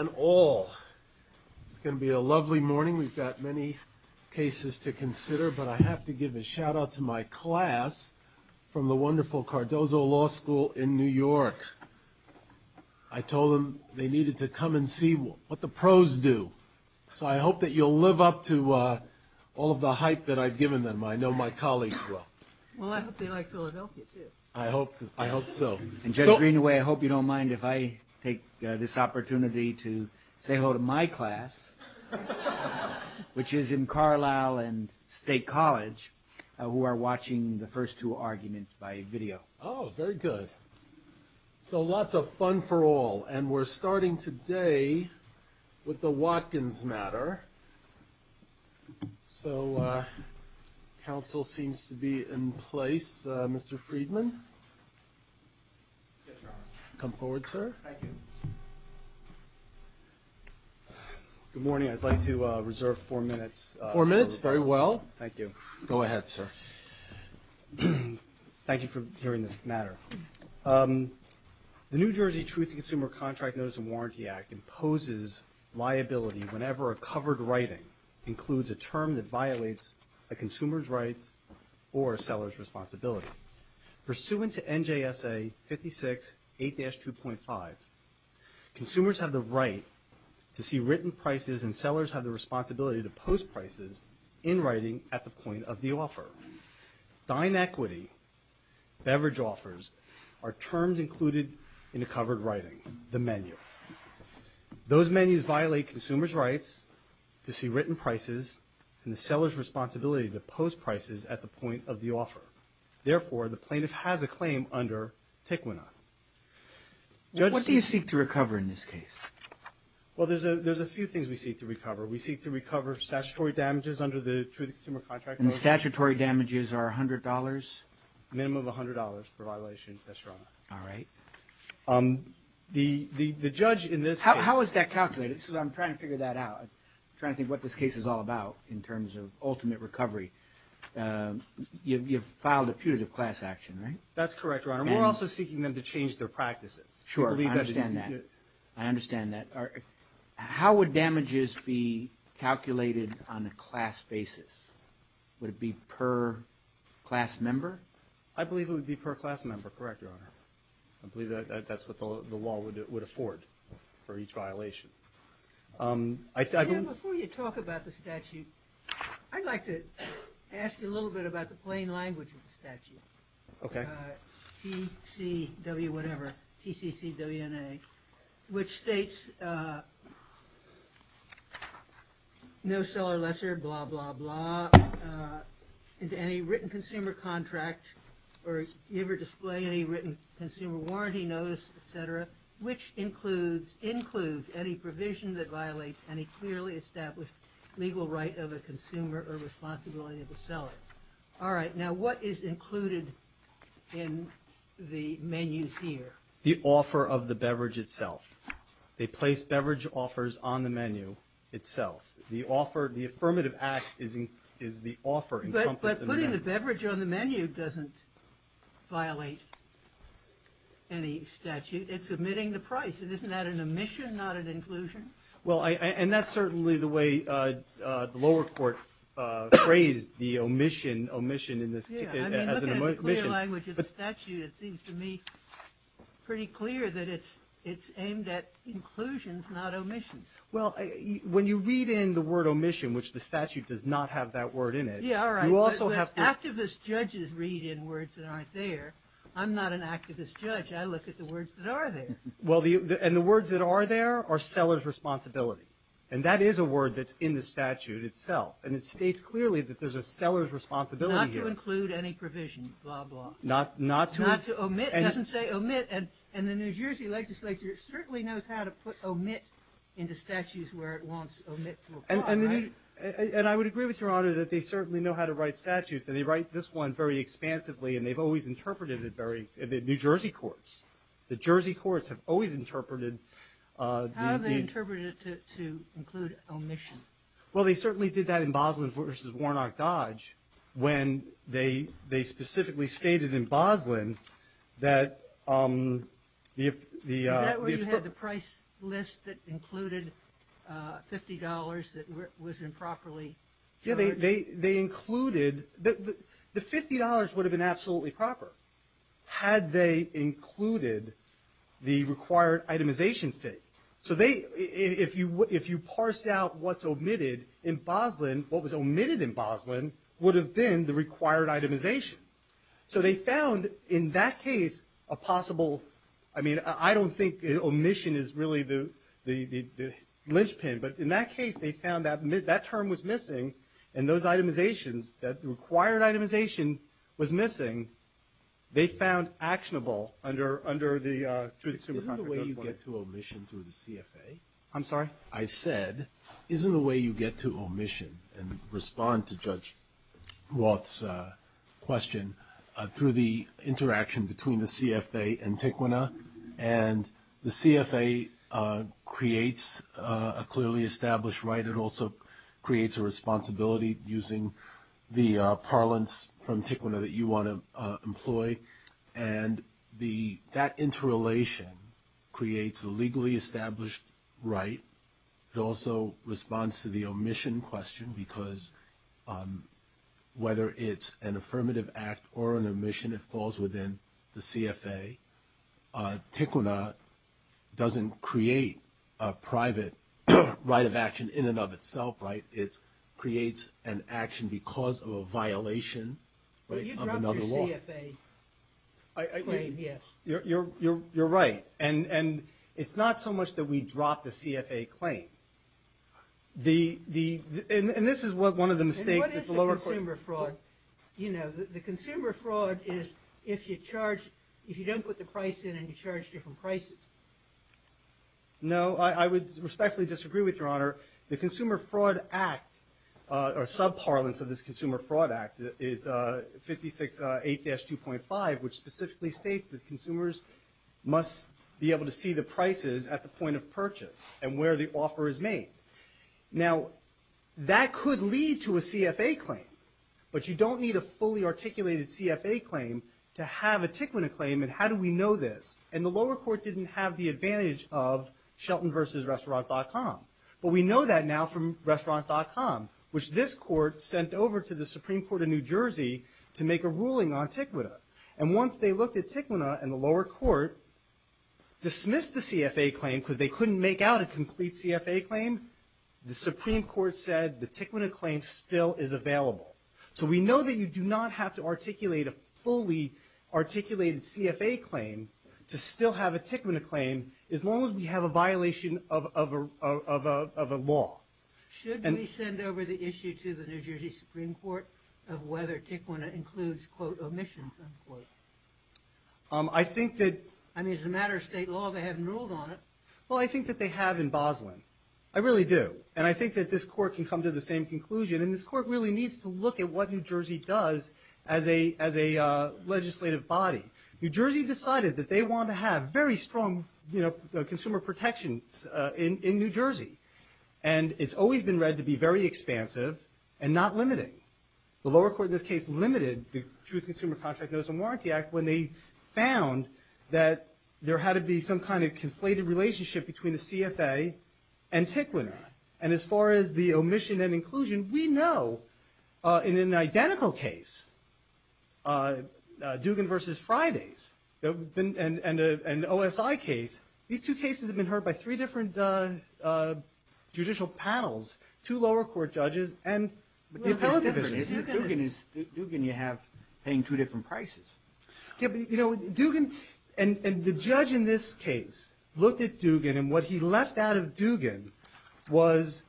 It's going to be a lovely morning. We've got many cases to consider, but I have to give a shout out to my class from the wonderful Cardozo Law School in New York. I told them they needed to come and see what the pros do. So I hope that you'll live up to all of the hype that I've given them. I know my colleagues well. Well, I hope they like Philadelphia, too. I hope so. And Judge Greenaway, I hope you don't mind if I take this opportunity to say hello to my class, which is in Carlisle and State College, who are watching the first two arguments by video. Oh, very good. So lots of fun for all. And we're starting today with the Watkins matter. So council seems to be in place. Mr. Friedman. Come forward, sir. Good morning. I'd like to reserve four minutes. Four minutes. Very well. Thank you. Go ahead, sir. Thank you for hearing this matter. The New Jersey Truth in Consumer Contract Notice and Warranty Act imposes liability whenever a covered writing includes a term that violates a consumer's rights or a seller's responsibility. Pursuant to NJSA 56-8-2.5, consumers have the right to see written prices and sellers have the responsibility to post prices in writing at the point of the offer. Dine equity, beverage offers, are terms included in a covered writing, the menu. Those menus violate consumers' rights to see written prices and the seller's responsibility to post prices at the point of the offer. Therefore, the plaintiff has a claim under TICWNA. What do you seek to recover in this case? Well, there's a few things we seek to recover. We seek to recover statutory damages under the Truth in Consumer Contract Notice. And the statutory damages are $100? Minimum of $100 per violation. All right. The judge in this case... How is that calculated? I'm trying to figure that out. I'm trying to think what this case is all about in terms of ultimate recovery. You've filed a putative class action, right? That's correct, Your Honor. We're also seeking them to change their practices. Sure, I understand that. I understand that. How would damages be calculated on a class basis? Would it be per class member? I believe it would be per class member, correct, Your Honor. I believe that's what the law would afford for each violation. Jim, before you talk about the statute, I'd like to ask you a little bit about the plain language of the statute. Okay. All right. T, C, W, whatever. TCCWNA. Which states, no seller lesser, blah, blah, blah, into any written consumer contract or give or display any written consumer warranty notice, et cetera, which includes any provision that violates any clearly established legal right of a consumer or responsibility of the seller. All right. Now, what is included in the menus here? The offer of the beverage itself. They place beverage offers on the menu itself. The offer, the affirmative act is the offer encompassed in the menu. But putting the beverage on the menu doesn't violate any statute. It's omitting the price, and isn't that an omission, not an inclusion? Well, and that's certainly the way the lower court phrased the omission, omission as an omission. Yeah, I mean, look at the clear language of the statute. It seems to me pretty clear that it's aimed at inclusions, not omissions. Well, when you read in the word omission, which the statute does not have that word in it. Yeah, all right. But activist judges read in words that aren't there. I'm not an activist judge. I look at the words that are there. Well, and the words that are there are seller's responsibility. And that is a word that's in the statute itself. And it states clearly that there's a seller's responsibility here. Not to include any provision, blah, blah. Not to. Not to omit. It doesn't say omit. And the New Jersey legislature certainly knows how to put omit into statutes where it wants omit to apply. And I would agree with Your Honor that they certainly know how to write statutes. And they write this one very expansively, and they've always interpreted it very – the New Jersey courts. The Jersey courts have always interpreted these. How have they interpreted it to include omission? Well, they certainly did that in Boslin v. Warnock Dodge when they specifically stated in Boslin that the – Is that where you had the price list that included $50 that was improperly charged? Yeah, they included – the $50 would have been absolutely proper. Had they included the required itemization fit. So they – if you parse out what's omitted in Boslin, what was omitted in Boslin would have been the required itemization. So they found in that case a possible – I mean, I don't think omission is really the lynchpin. But in that case, they found that that term was missing, and those itemizations, that the required itemization was missing. They found actionable under the – Isn't the way you get to omission through the CFA? I'm sorry? I said, isn't the way you get to omission and respond to Judge Roth's question through the interaction between the CFA and TICWNA? And the CFA creates a clearly established right. It also creates a responsibility using the parlance from TICWNA that you want to employ. And the – that interrelation creates a legally established right. It also responds to the omission question, because whether it's an affirmative act or an omission, it falls within the CFA. TICWNA doesn't create a private right of action in and of itself, right? It creates an action because of a violation, right, of another law. But you dropped your CFA claim, yes. You're right. And it's not so much that we dropped the CFA claim. The – and this is one of the mistakes that the lower court – And what is the consumer fraud? You know, the consumer fraud is if you charge – if you don't put the price in and you charge different prices. No, I would respectfully disagree with Your Honor. The Consumer Fraud Act or sub-parlance of this Consumer Fraud Act is 56-8-2.5, which specifically states that consumers must be able to see the prices at the point of purchase and where the offer is made. Now, that could lead to a CFA claim. But you don't need a fully articulated CFA claim to have a TICWNA claim, and how do we know this? And the lower court didn't have the advantage of Shelton versus Restaurants.com. But we know that now from Restaurants.com, which this court sent over to the Supreme Court of New Jersey to make a ruling on TICWNA. And once they looked at TICWNA and the lower court dismissed the CFA claim because they couldn't make out a complete CFA claim, the Supreme Court said the TICWNA claim still is available. So we know that you do not have to articulate a fully articulated CFA claim to still have a TICWNA claim as long as we have a violation of a law. Should we send over the issue to the New Jersey Supreme Court of whether TICWNA includes, quote, omissions, unquote? I think that... I mean, as a matter of state law, they haven't ruled on it. Well, I think that they have in Boslin. I really do. And I think that this court can come to the same conclusion. And this court really needs to look at what New Jersey does as a legislative body. New Jersey decided that they want to have very strong, you know, consumer protections in New Jersey. And it's always been read to be very expansive and not limiting. The lower court in this case limited the Truth Consumer Contract Notice and Warranty Act when they found that there had to be some kind of conflated relationship between the CFA and TICWNA. And as far as the omission and inclusion, we know in an identical case, Dugan v. Fridays, and an OSI case, these two cases have been heard by three different judicial panels, two lower court judges, and... Well, it's different. Dugan you have paying two different prices. Yeah, but, you know, Dugan... And the judge in this case looked at Dugan, and what he left out of Dugan was...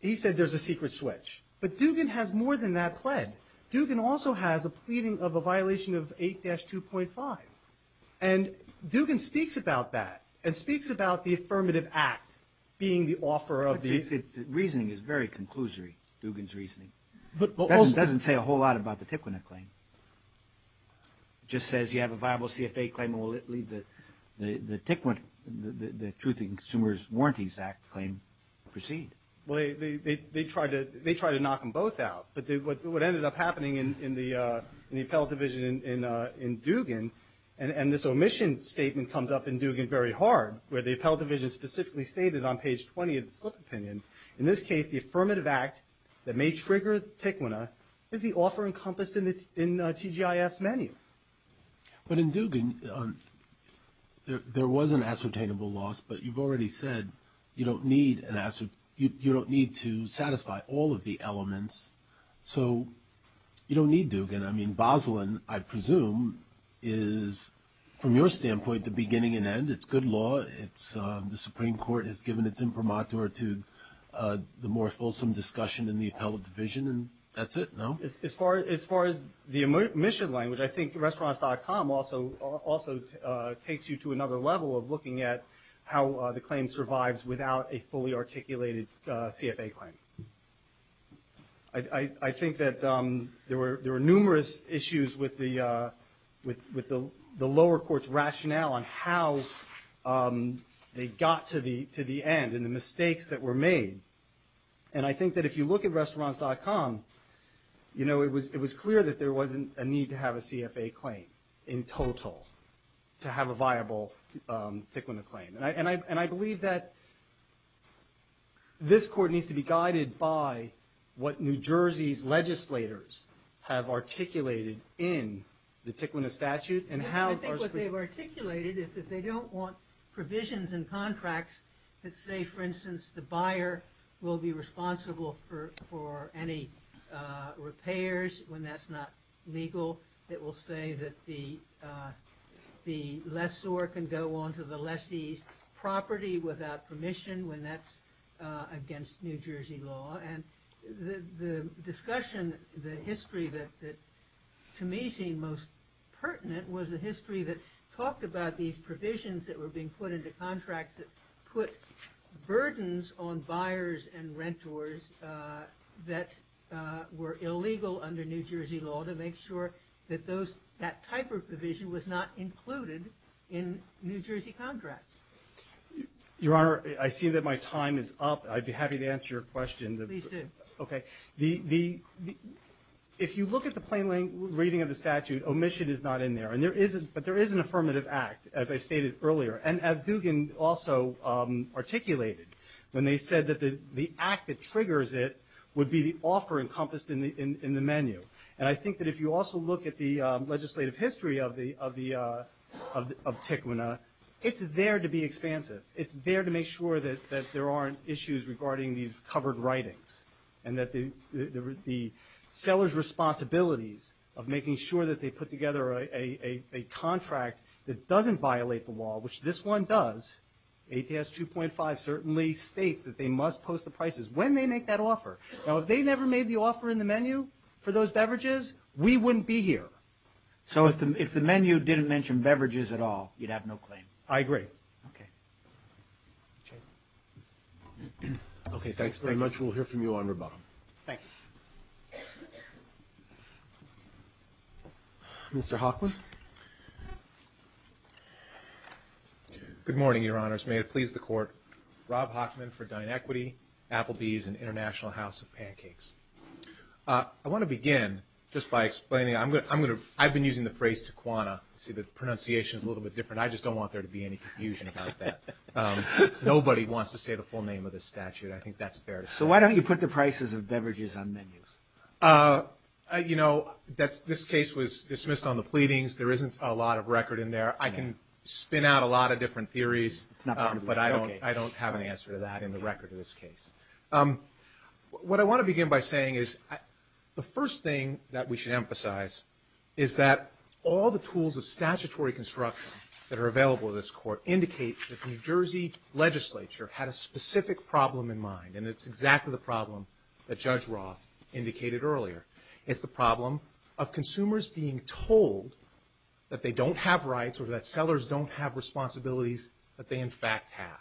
He said there's a secret switch. But Dugan has more than that pled. Dugan also has a pleading of a violation of 8-2.5. And Dugan speaks about that, and speaks about the affirmative act being the offer of the... Reasoning is very conclusory, Dugan's reasoning. It doesn't say a whole lot about the TICWNA claim. It just says you have a viable CFA claim, and we'll let the TICWNA, the Truth and Consumer Warranties Act claim proceed. Well, they tried to knock them both out. But what ended up happening in the appellate division in Dugan, and this omission statement comes up in Dugan very hard, where the appellate division specifically stated on page 20 of the slip opinion, in this case the affirmative act that may trigger TICWNA is the offer encompassed in TGIF's menu. But in Dugan, there was an ascertainable loss, but you've already said you don't need to satisfy all of the elements. So you don't need Dugan. I mean, Boslin, I presume, is, from your standpoint, the beginning and end. It's good law. The Supreme Court has given its imprimatur to the more fulsome discussion in the appellate division, and that's it, no? As far as the omission language, I think restaurants.com also takes you to another level of looking at how the claim survives without a fully articulated CFA claim. I think that there were numerous issues with the lower court's rationale on how they got to the end and the mistakes that were made. And I think that if you look at restaurants.com, it was clear that there wasn't a need to have a CFA claim in total to have a viable TICWNA claim. And I believe that this court needs to be guided by what New Jersey's legislators have articulated in the TICWNA statute. I think what they've articulated is that they don't want provisions in contracts that say, for instance, the buyer will be responsible for any repairs when that's not legal. It will say that the lessor can go onto the lessee's property without permission when that's against New Jersey law. And the discussion, the history that to me seemed most pertinent, was a history that talked about these provisions that were being put into contracts that put burdens on buyers and renters that were illegal under New Jersey law to make sure that that type of provision was not included in New Jersey contracts. Your Honor, I see that my time is up. I'd be happy to answer your question. Please do. If you look at the plain language reading of the statute, omission is not in there. But there is an affirmative act, as I stated earlier, and as Dugan also articulated, when they said that the act that triggers it would be the offer encompassed in the menu. And I think that if you also look at the legislative history of TICWNA, it's there to be expansive. It's there to make sure that there aren't issues regarding these covered writings and that the seller's responsibilities of making sure that they put together a contract that doesn't violate the law, which this one does, ATS 2.5 certainly states that they must post the prices when they make that offer. Now, if they never made the offer in the menu for those beverages, we wouldn't be here. So if the menu didn't mention beverages at all, you'd have no claim? I agree. Okay. Okay, thanks very much. We'll hear from you on rebuttal. Thank you. Mr. Hockman? Good morning, Your Honors. May it please the Court. Rob Hockman for DineEquity, Applebee's, and International House of Pancakes. I want to begin just by explaining I've been using the phrase TICWNA. See, the pronunciation is a little bit different. I just don't want there to be any confusion about that. Nobody wants to say the full name of this statute. I think that's fair. So why don't you put the prices of beverages on menus? You know, this case was dismissed on the pleadings. There isn't a lot of record in there. I can spin out a lot of different theories, but I don't have an answer to that in the record of this case. What I want to begin by saying is the first thing that we should emphasize is that all the tools of statutory construction that are available to this Court indicate that the New Jersey legislature had a specific problem in mind, and it's exactly the problem that Judge Roth indicated earlier. It's the problem of consumers being told that they don't have rights or that sellers don't have responsibilities that they, in fact, have.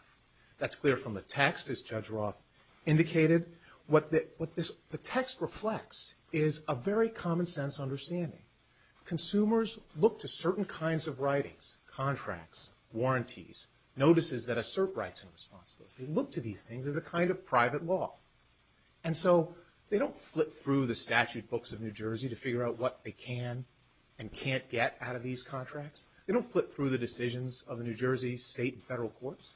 That's clear from the text, as Judge Roth indicated. What the text reflects is a very common-sense understanding. Consumers look to certain kinds of writings, contracts, warranties, notices that assert rights and responsibilities. They look to these things as a kind of private law. And so they don't flip through the statute books of New Jersey to figure out what they can and can't get out of these contracts. They don't flip through the decisions of the New Jersey State and Federal Courts.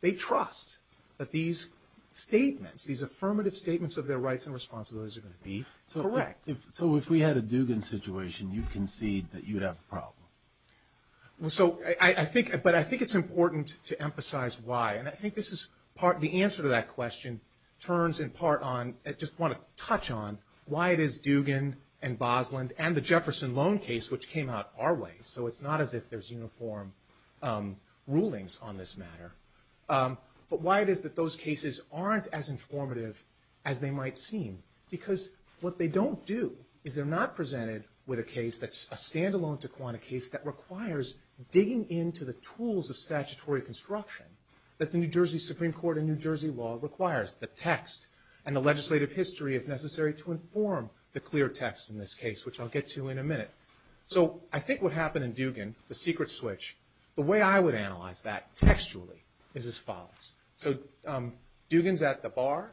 They trust that these statements, these affirmative statements of their rights and responsibilities are going to be correct. So if we had a Dugan situation, you'd concede that you'd have a problem? So I think it's important to emphasize why, and I think the answer to that question turns in part on, I just want to touch on, why it is Dugan and Bosland and the Jefferson Loan case which came out our way. So it's not as if there's uniform rulings on this matter. But why it is that those cases aren't as informative as they might seem. Because what they don't do is they're not presented with a case that's a stand-alone Taquana case that requires digging into the tools of statutory construction that the New Jersey Supreme Court and New Jersey law requires. The text and the legislative history, if necessary, to inform the clear text in this case, which I'll get to in a minute. So I think what happened in Dugan, the secret switch, the way I would analyze that textually is as follows. So Dugan's at the bar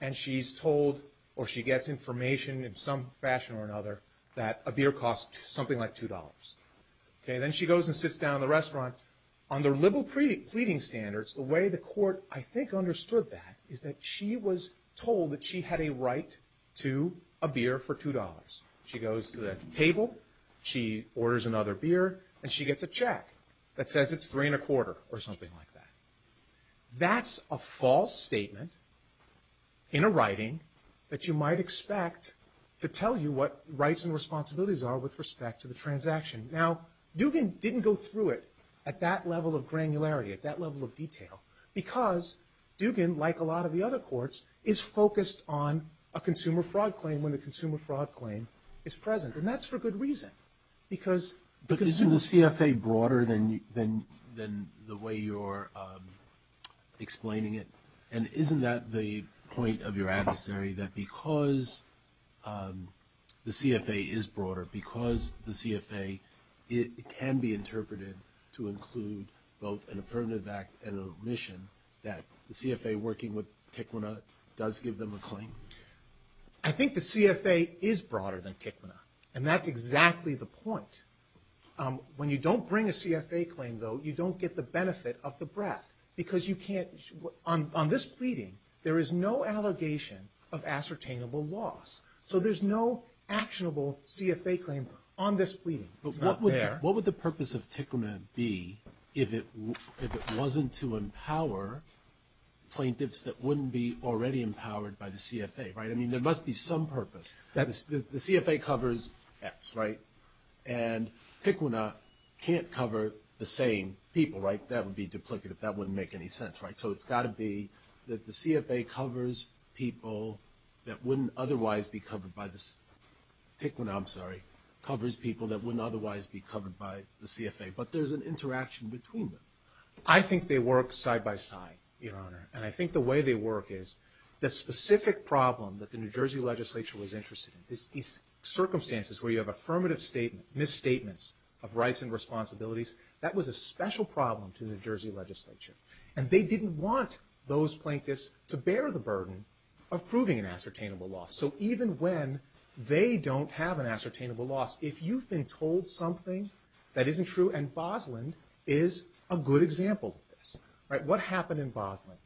and she's told, or she gets information in some fashion or another, that a beer costs something like $2. Then she goes and sits down at the restaurant. On the liberal pleading standards, the way the court, I think, understood that is that she was told that she had a right to a beer for $2. She goes to the table, she orders another beer, and she gets a check that says it's 3.25 or something like that. That's a false statement in a writing that you might expect to tell you what rights and responsibilities are with respect to the transaction. Now, Dugan didn't go through it at that level of granularity, at that level of detail, because Dugan, like a lot of the other courts, is focused on a consumer fraud claim and when the consumer fraud claim is present. And that's for good reason. But isn't the CFA broader than the way you're explaining it? And isn't that the point of your adversary, that because the CFA is broader, because the CFA can be interpreted to include both an affirmative act and an omission, that the CFA, working with Tikwana, does give them a claim? I think the CFA is broader than Tikwana. And that's exactly the point. When you don't bring a CFA claim, though, you don't get the benefit of the breath. Because you can't, on this pleading, there is no allegation of ascertainable loss. So there's no actionable CFA claim on this pleading. It's not there. But what would the purpose of Tikwana be if it wasn't to empower plaintiffs that wouldn't be already empowered by the CFA, right? I mean, there must be some purpose. The CFA covers X, right? And Tikwana can't cover the same people, right? That would be duplicative. That wouldn't make any sense, right? So it's got to be that the CFA covers people that wouldn't otherwise be covered by the CFA. Tikwana, I'm sorry, covers people that wouldn't otherwise be covered by the CFA. But there's an interaction between them. I think they work side by side, Your Honor. And I think the way they work is, the specific problem that the New Jersey legislature was interested in, these circumstances where you have affirmative statements, misstatements of rights and responsibilities, that was a special problem to the New Jersey legislature. And they didn't want those plaintiffs to bear the burden of proving an ascertainable loss. So even when they don't have an ascertainable loss, if you've been told something that isn't true, and Bosland is a good example of this, right? What happened in Bosland?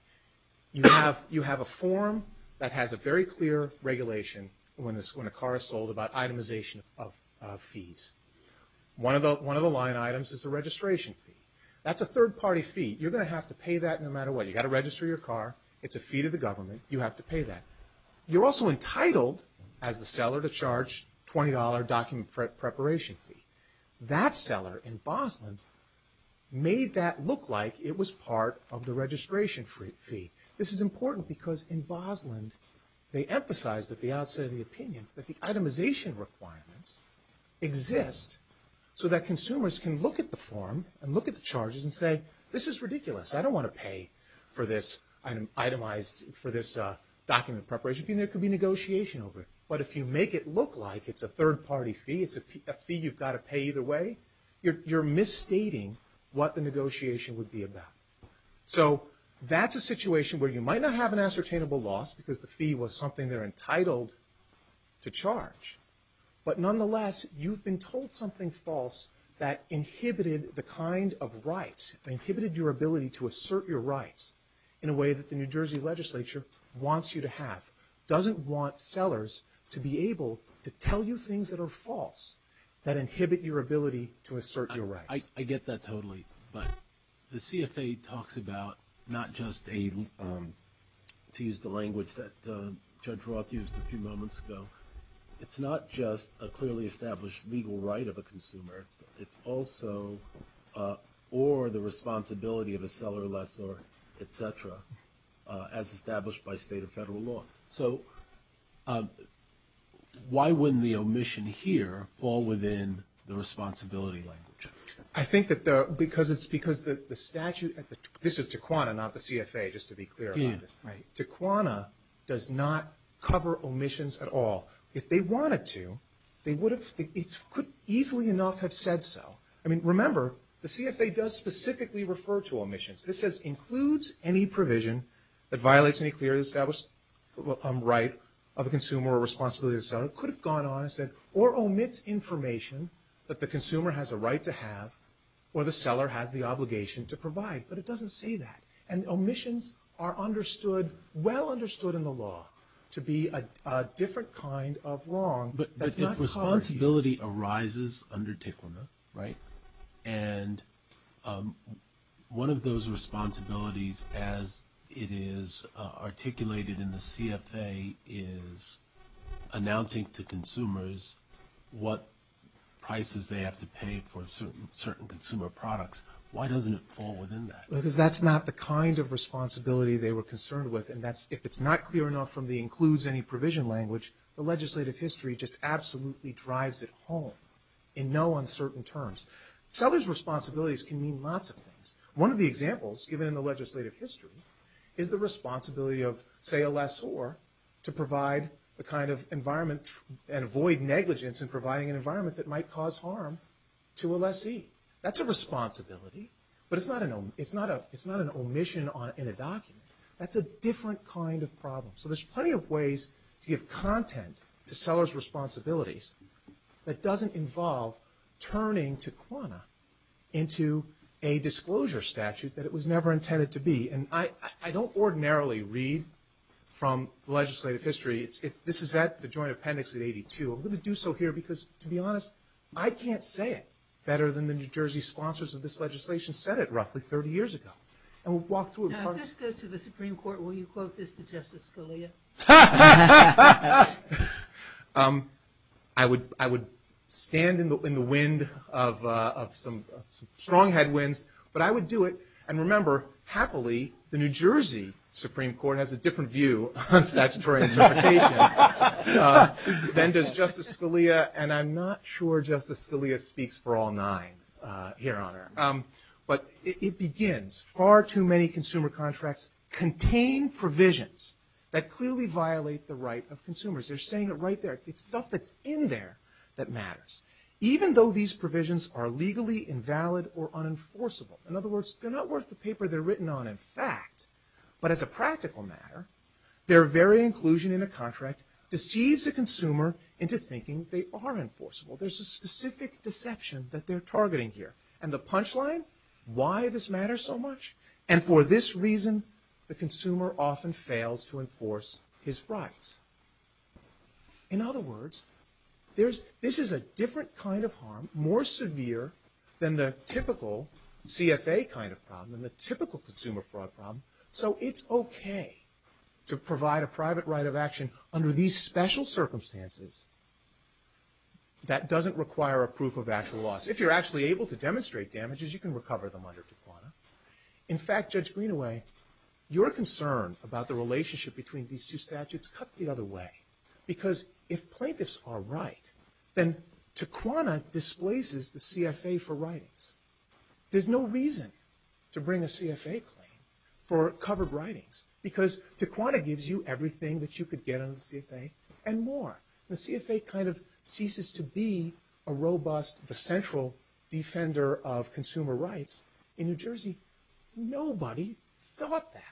You have a form that has a very clear regulation when a car is sold about itemization of fees. One of the line items is the registration fee. That's a third-party fee. You're going to have to pay that no matter what. You've got to register your car. It's a fee to the government. You have to pay that. You're also entitled, as the seller, to charge $20 document preparation fee. That seller in Bosland made that look like it was part of the registration fee. This is important because in Bosland, they emphasize at the outset of the opinion that the itemization requirements exist so that consumers can look at the form and look at the charges and say, this is ridiculous. I don't want to pay for this document preparation fee. And there could be negotiation over it. But if you make it look like it's a third-party fee, it's a fee you've got to pay either way, you're misstating what the negotiation would be about. So that's a situation where you might not have an ascertainable loss because the fee was something they're entitled to charge. But nonetheless, you've been told something false that inhibited the kind of rights, inhibited your ability to assert your rights in a way that the New Jersey legislature wants you to have, doesn't want sellers to be able to tell you things that are false that inhibit your ability to assert your rights. I get that totally. But the CFA talks about not just a, to use the language that Judge Roth used a few moments ago, it's not just a clearly established legal right of a consumer. It's also or the responsibility of a seller, lessor, et cetera, as established by state or federal law. So why wouldn't the omission here fall within the responsibility language? I think that the, because it's because the statute, this is Taquana, not the CFA, just to be clear about this. Taquana does not cover omissions at all. If they wanted to, they would have, it could easily enough have said so. I mean, remember, the CFA does specifically refer to omissions. This says, includes any provision that violates any clearly established right of a consumer or responsibility of the seller. It could have gone on and said, or omits information that the consumer has a right to have or the seller has the obligation to provide. But it doesn't say that. And omissions are understood, well understood in the law, to be a different kind of wrong. But if responsibility arises under Taquana, right? And one of those responsibilities, as it is articulated in the CFA, is announcing to consumers what prices they have to pay for certain consumer products. Why doesn't it fall within that? Because that's not the kind of responsibility they were concerned with. And that's, if it's not clear enough from the includes any provision language, the legislative history just absolutely drives it home in no uncertain terms. Seller's responsibilities can mean lots of things. One of the examples given in the legislative history is the responsibility of, say, a lessor to provide the kind of environment and avoid negligence in providing an environment that might cause harm to a lessee. That's a responsibility, but it's not an omission in a document. That's a different kind of problem. So there's plenty of ways to give content to seller's responsibilities that doesn't involve turning Taquana into a disclosure statute that it was never intended to be. And I don't ordinarily read from legislative history. This is at the Joint Appendix at 82. I'm going to do so here because, to be honest, I can't say it better than the New Jersey sponsors of this legislation said it roughly 30 years ago. And we'll walk through it. If this goes to the Supreme Court, will you quote this to Justice Scalia? Ha ha ha ha! I would stand in the wind of some strong headwinds, but I would do it. And remember, happily, the New Jersey Supreme Court has a different view on statutory justification than does Justice Scalia. And I'm not sure Justice Scalia speaks for all nine here, Honor. But it begins, far too many consumer contracts contain provisions that clearly violate the right of consumers. They're saying it right there. It's stuff that's in there that matters. Even though these provisions are legally invalid or unenforceable. In other words, they're not worth the paper they're written on in fact. But as a practical matter, their very inclusion in a contract deceives a consumer into thinking they are enforceable. There's a specific deception that they're targeting here. And the punchline, why this matters so much? And for this reason, the consumer often fails to enforce his rights. In other words, this is a different kind of harm, more severe than the typical CFA kind of problem and the typical consumer fraud problem. So it's okay to provide a private right of action under these special circumstances that doesn't require a proof of actual loss. If you're actually able to demonstrate damages, you can recover them under Taquana. In fact, Judge Greenaway, your concern about the relationship between these two statutes cuts the other way. Because if plaintiffs are right, then Taquana displaces the CFA for writings. There's no reason to bring a CFA claim for covered writings. Because Taquana gives you everything that you could get under the CFA and more. The CFA kind of ceases to be a robust, the central defender of consumer rights. In New Jersey, nobody thought that.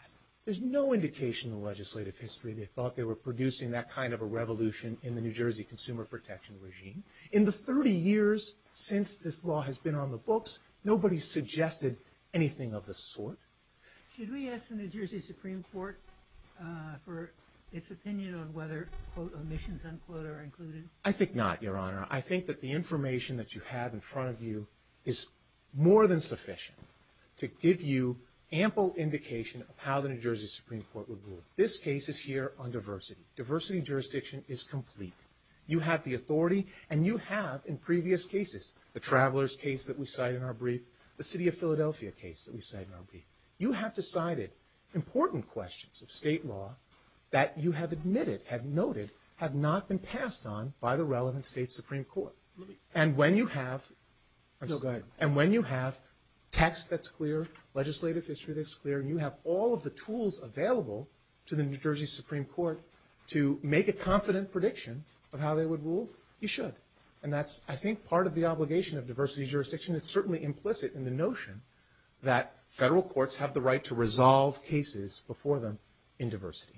There's no indication in legislative history they thought they were producing that kind of a revolution in the New Jersey consumer protection regime. In the 30 years since this law has been on the books, nobody suggested anything of the sort. Should we ask the New Jersey Supreme Court for its opinion on whether, quote, omissions, unquote, are included? I think not, Your Honor. I think that the information that you have in front of you is more than sufficient to give you ample indication of how the New Jersey Supreme Court would rule. This case is here on diversity. Diversity in jurisdiction is complete. You have the authority, and you have in previous cases, the travelers case that we cite in our brief, the city of Philadelphia case that we cite in our brief. You have decided important questions of state law that you have admitted, have noted, have not been passed on by the relevant state Supreme Court. And when you have... No, go ahead. And when you have text that's clear, legislative history that's clear, and you have all of the tools available to the New Jersey Supreme Court to make a confident prediction of how they would rule, you should. And that's, I think, part of the obligation of diversity in jurisdiction. It's certainly implicit in the notion that federal courts have the right to resolve cases before them in diversity.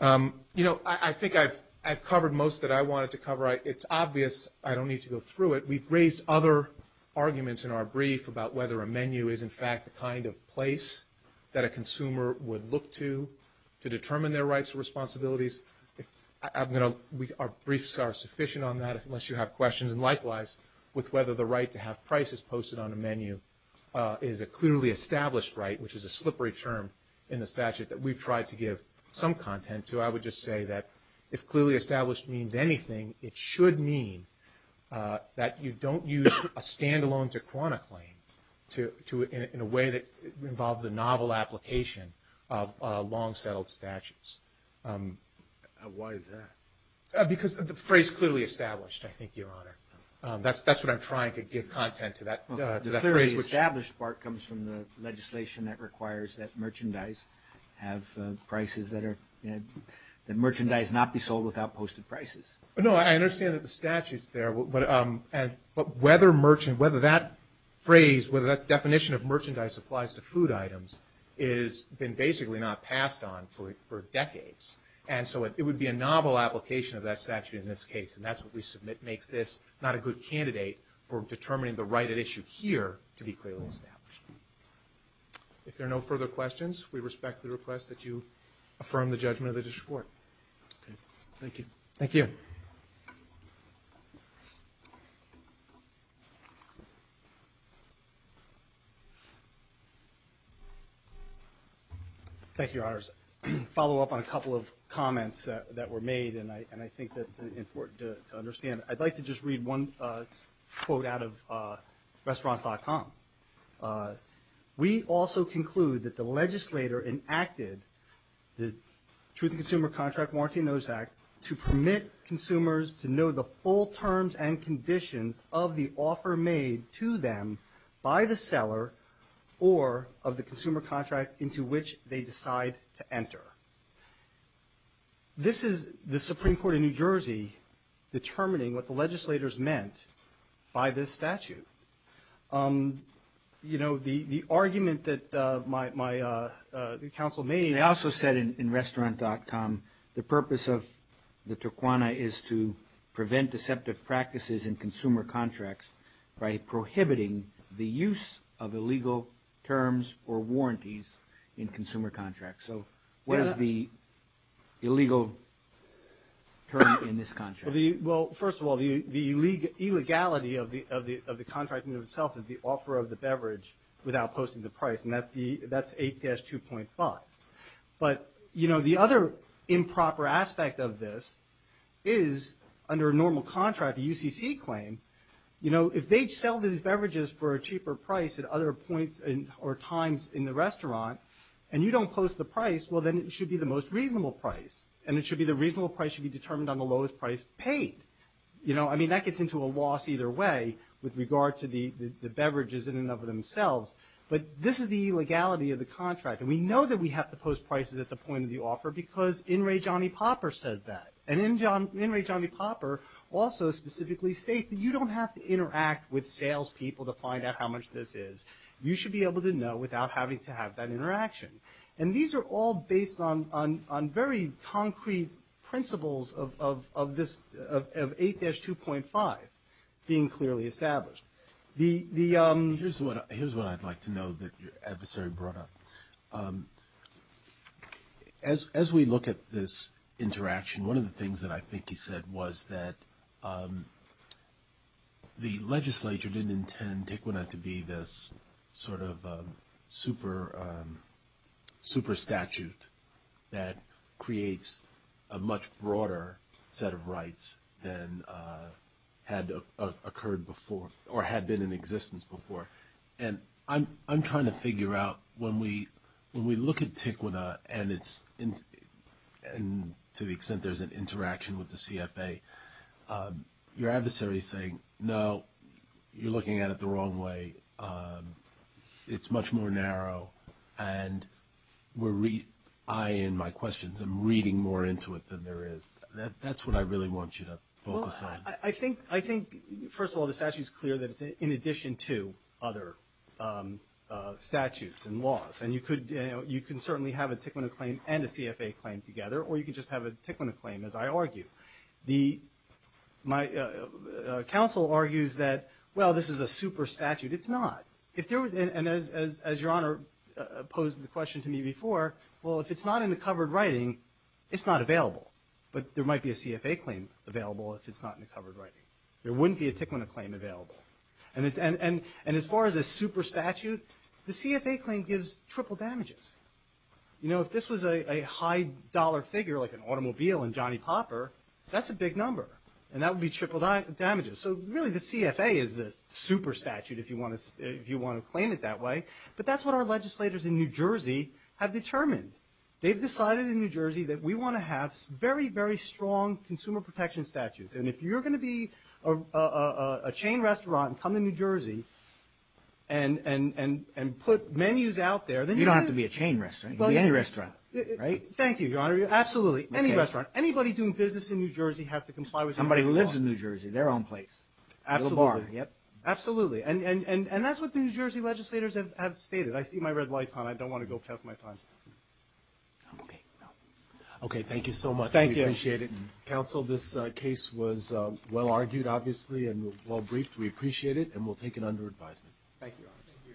You know, I think I've covered most that I wanted to cover. It's obvious. I don't need to go through it. We've raised other arguments in our brief about whether a menu is, in fact, the kind of place that a consumer would look to to determine their rights and responsibilities. Our briefs are sufficient on that, unless you have questions. And likewise, with whether the right to have prices posted on a menu is a clearly established right, which is a slippery term in the statute that we've tried to give some content to, I would just say that, if clearly established means anything, it should mean that you don't use a standalone Tijuana claim in a way that involves the novel application of long-settled statutes. Why is that? Because the phrase clearly established, I think, Your Honor. That's what I'm trying to give content to, that phrase. The clearly established part comes from the legislation that requires that merchandise not be sold without posted prices. No, I understand that the statute's there, but whether that phrase, whether that definition of merchandise applies to food items has been basically not passed on for decades, and so it would be a novel application of that statute in this case, and that's what makes this not a good candidate for determining the right at issue here to be clearly established. If there are no further questions, we respect the request that you affirm the judgment of the district court. Thank you. Thank you. Thank you, Your Honors. A follow-up on a couple of comments that were made, and I think that it's important to understand. I'd like to just read one quote out of Restaurants.com. We also conclude that the legislator enacted the Truth in Consumer Contract Warranty Notice Act to permit consumers to know the full terms and conditions of the offer made to them by the seller or of the consumer contract into which they decide to enter. This is the Supreme Court of New Jersey determining what the legislators meant by this statute. You know, the argument that my counsel made... They also said in Restaurants.com the purpose of the Turquoise is to prevent deceptive practices in consumer contracts by prohibiting the use of illegal terms or warranties in consumer contracts. So what is the illegal term in this contract? Well, first of all, the illegality of the contract in and of itself is the offer of the beverage without posting the price, and that's 8-2.5. But the other improper aspect of this is under a normal contract, a UCC claim, if they sell these beverages for a cheaper price at other points or times in the restaurant and you don't post the price, well, then it should be the most reasonable price, and the reasonable price should be determined on the lowest price paid. You know, I mean, that gets into a loss either way with regard to the beverages in and of themselves. But this is the illegality of the contract, and we know that we have to post prices at the point of the offer because in re Johnny Popper says that. And in re Johnny Popper also specifically states that you don't have to interact with salespeople to find out how much this is. You should be able to know without having to have that interaction. And these are all based on on very concrete principles of this, of 8-2.5 being clearly established. The... Here's what I'd like to know that your adversary brought up. As we look at this interaction, one of the things that I think he said was that the legislature didn't intend Taekwondo to be this sort of super statute that creates a much broader set of rights than had occurred before or had been in existence before. And I'm trying to figure out when we look at Taekwondo and to the extent there's an interaction with the CFA, your adversary is saying, no, you're looking at it the wrong way. It's much more narrow. And I, in my questions, am reading more into it than there is. That's what I really want you to focus on. Well, I think, first of all, the statute's clear that it's in addition to other statutes and laws. And you can certainly have a Taekwondo claim and a CFA claim together, or you can just have a Taekwondo claim, as I argue. The... My counsel argues that, well, this is a super statute. It's not. And as Your Honor posed the question to me before, well, if it's not in the covered writing, it's not available. But there might be a CFA claim available if it's not in the covered writing. There wouldn't be a Taekwondo claim available. And as far as a super statute, the CFA claim gives triple damages. You know, if this was a high dollar figure, like an automobile and Johnny Popper, that's a big number. And that would be triple damages. So, really, the CFA is the super statute if you want to claim it that way. But that's what our legislators in New Jersey have determined. They've decided in New Jersey that we want to have very, very strong consumer protection statutes. And if you're going to be a chain restaurant and come to New Jersey and put menus out there, then you... You don't have to be a chain restaurant. You can be any restaurant, right? Thank you, Your Honor. Absolutely. Any restaurant. Anybody doing business in New Jersey has to comply with... Somebody who lives in New Jersey, their own place. Absolutely. They are. Absolutely. And that's what the New Jersey legislators have stated. I see my red lights on. I don't want to go pass my time. Okay. No. Okay, thank you so much. Thank you. We appreciate it. Counsel, this case was well-argued, obviously, and well-briefed. We appreciate it, and we'll take it under advisement. Thank you, Your Honor.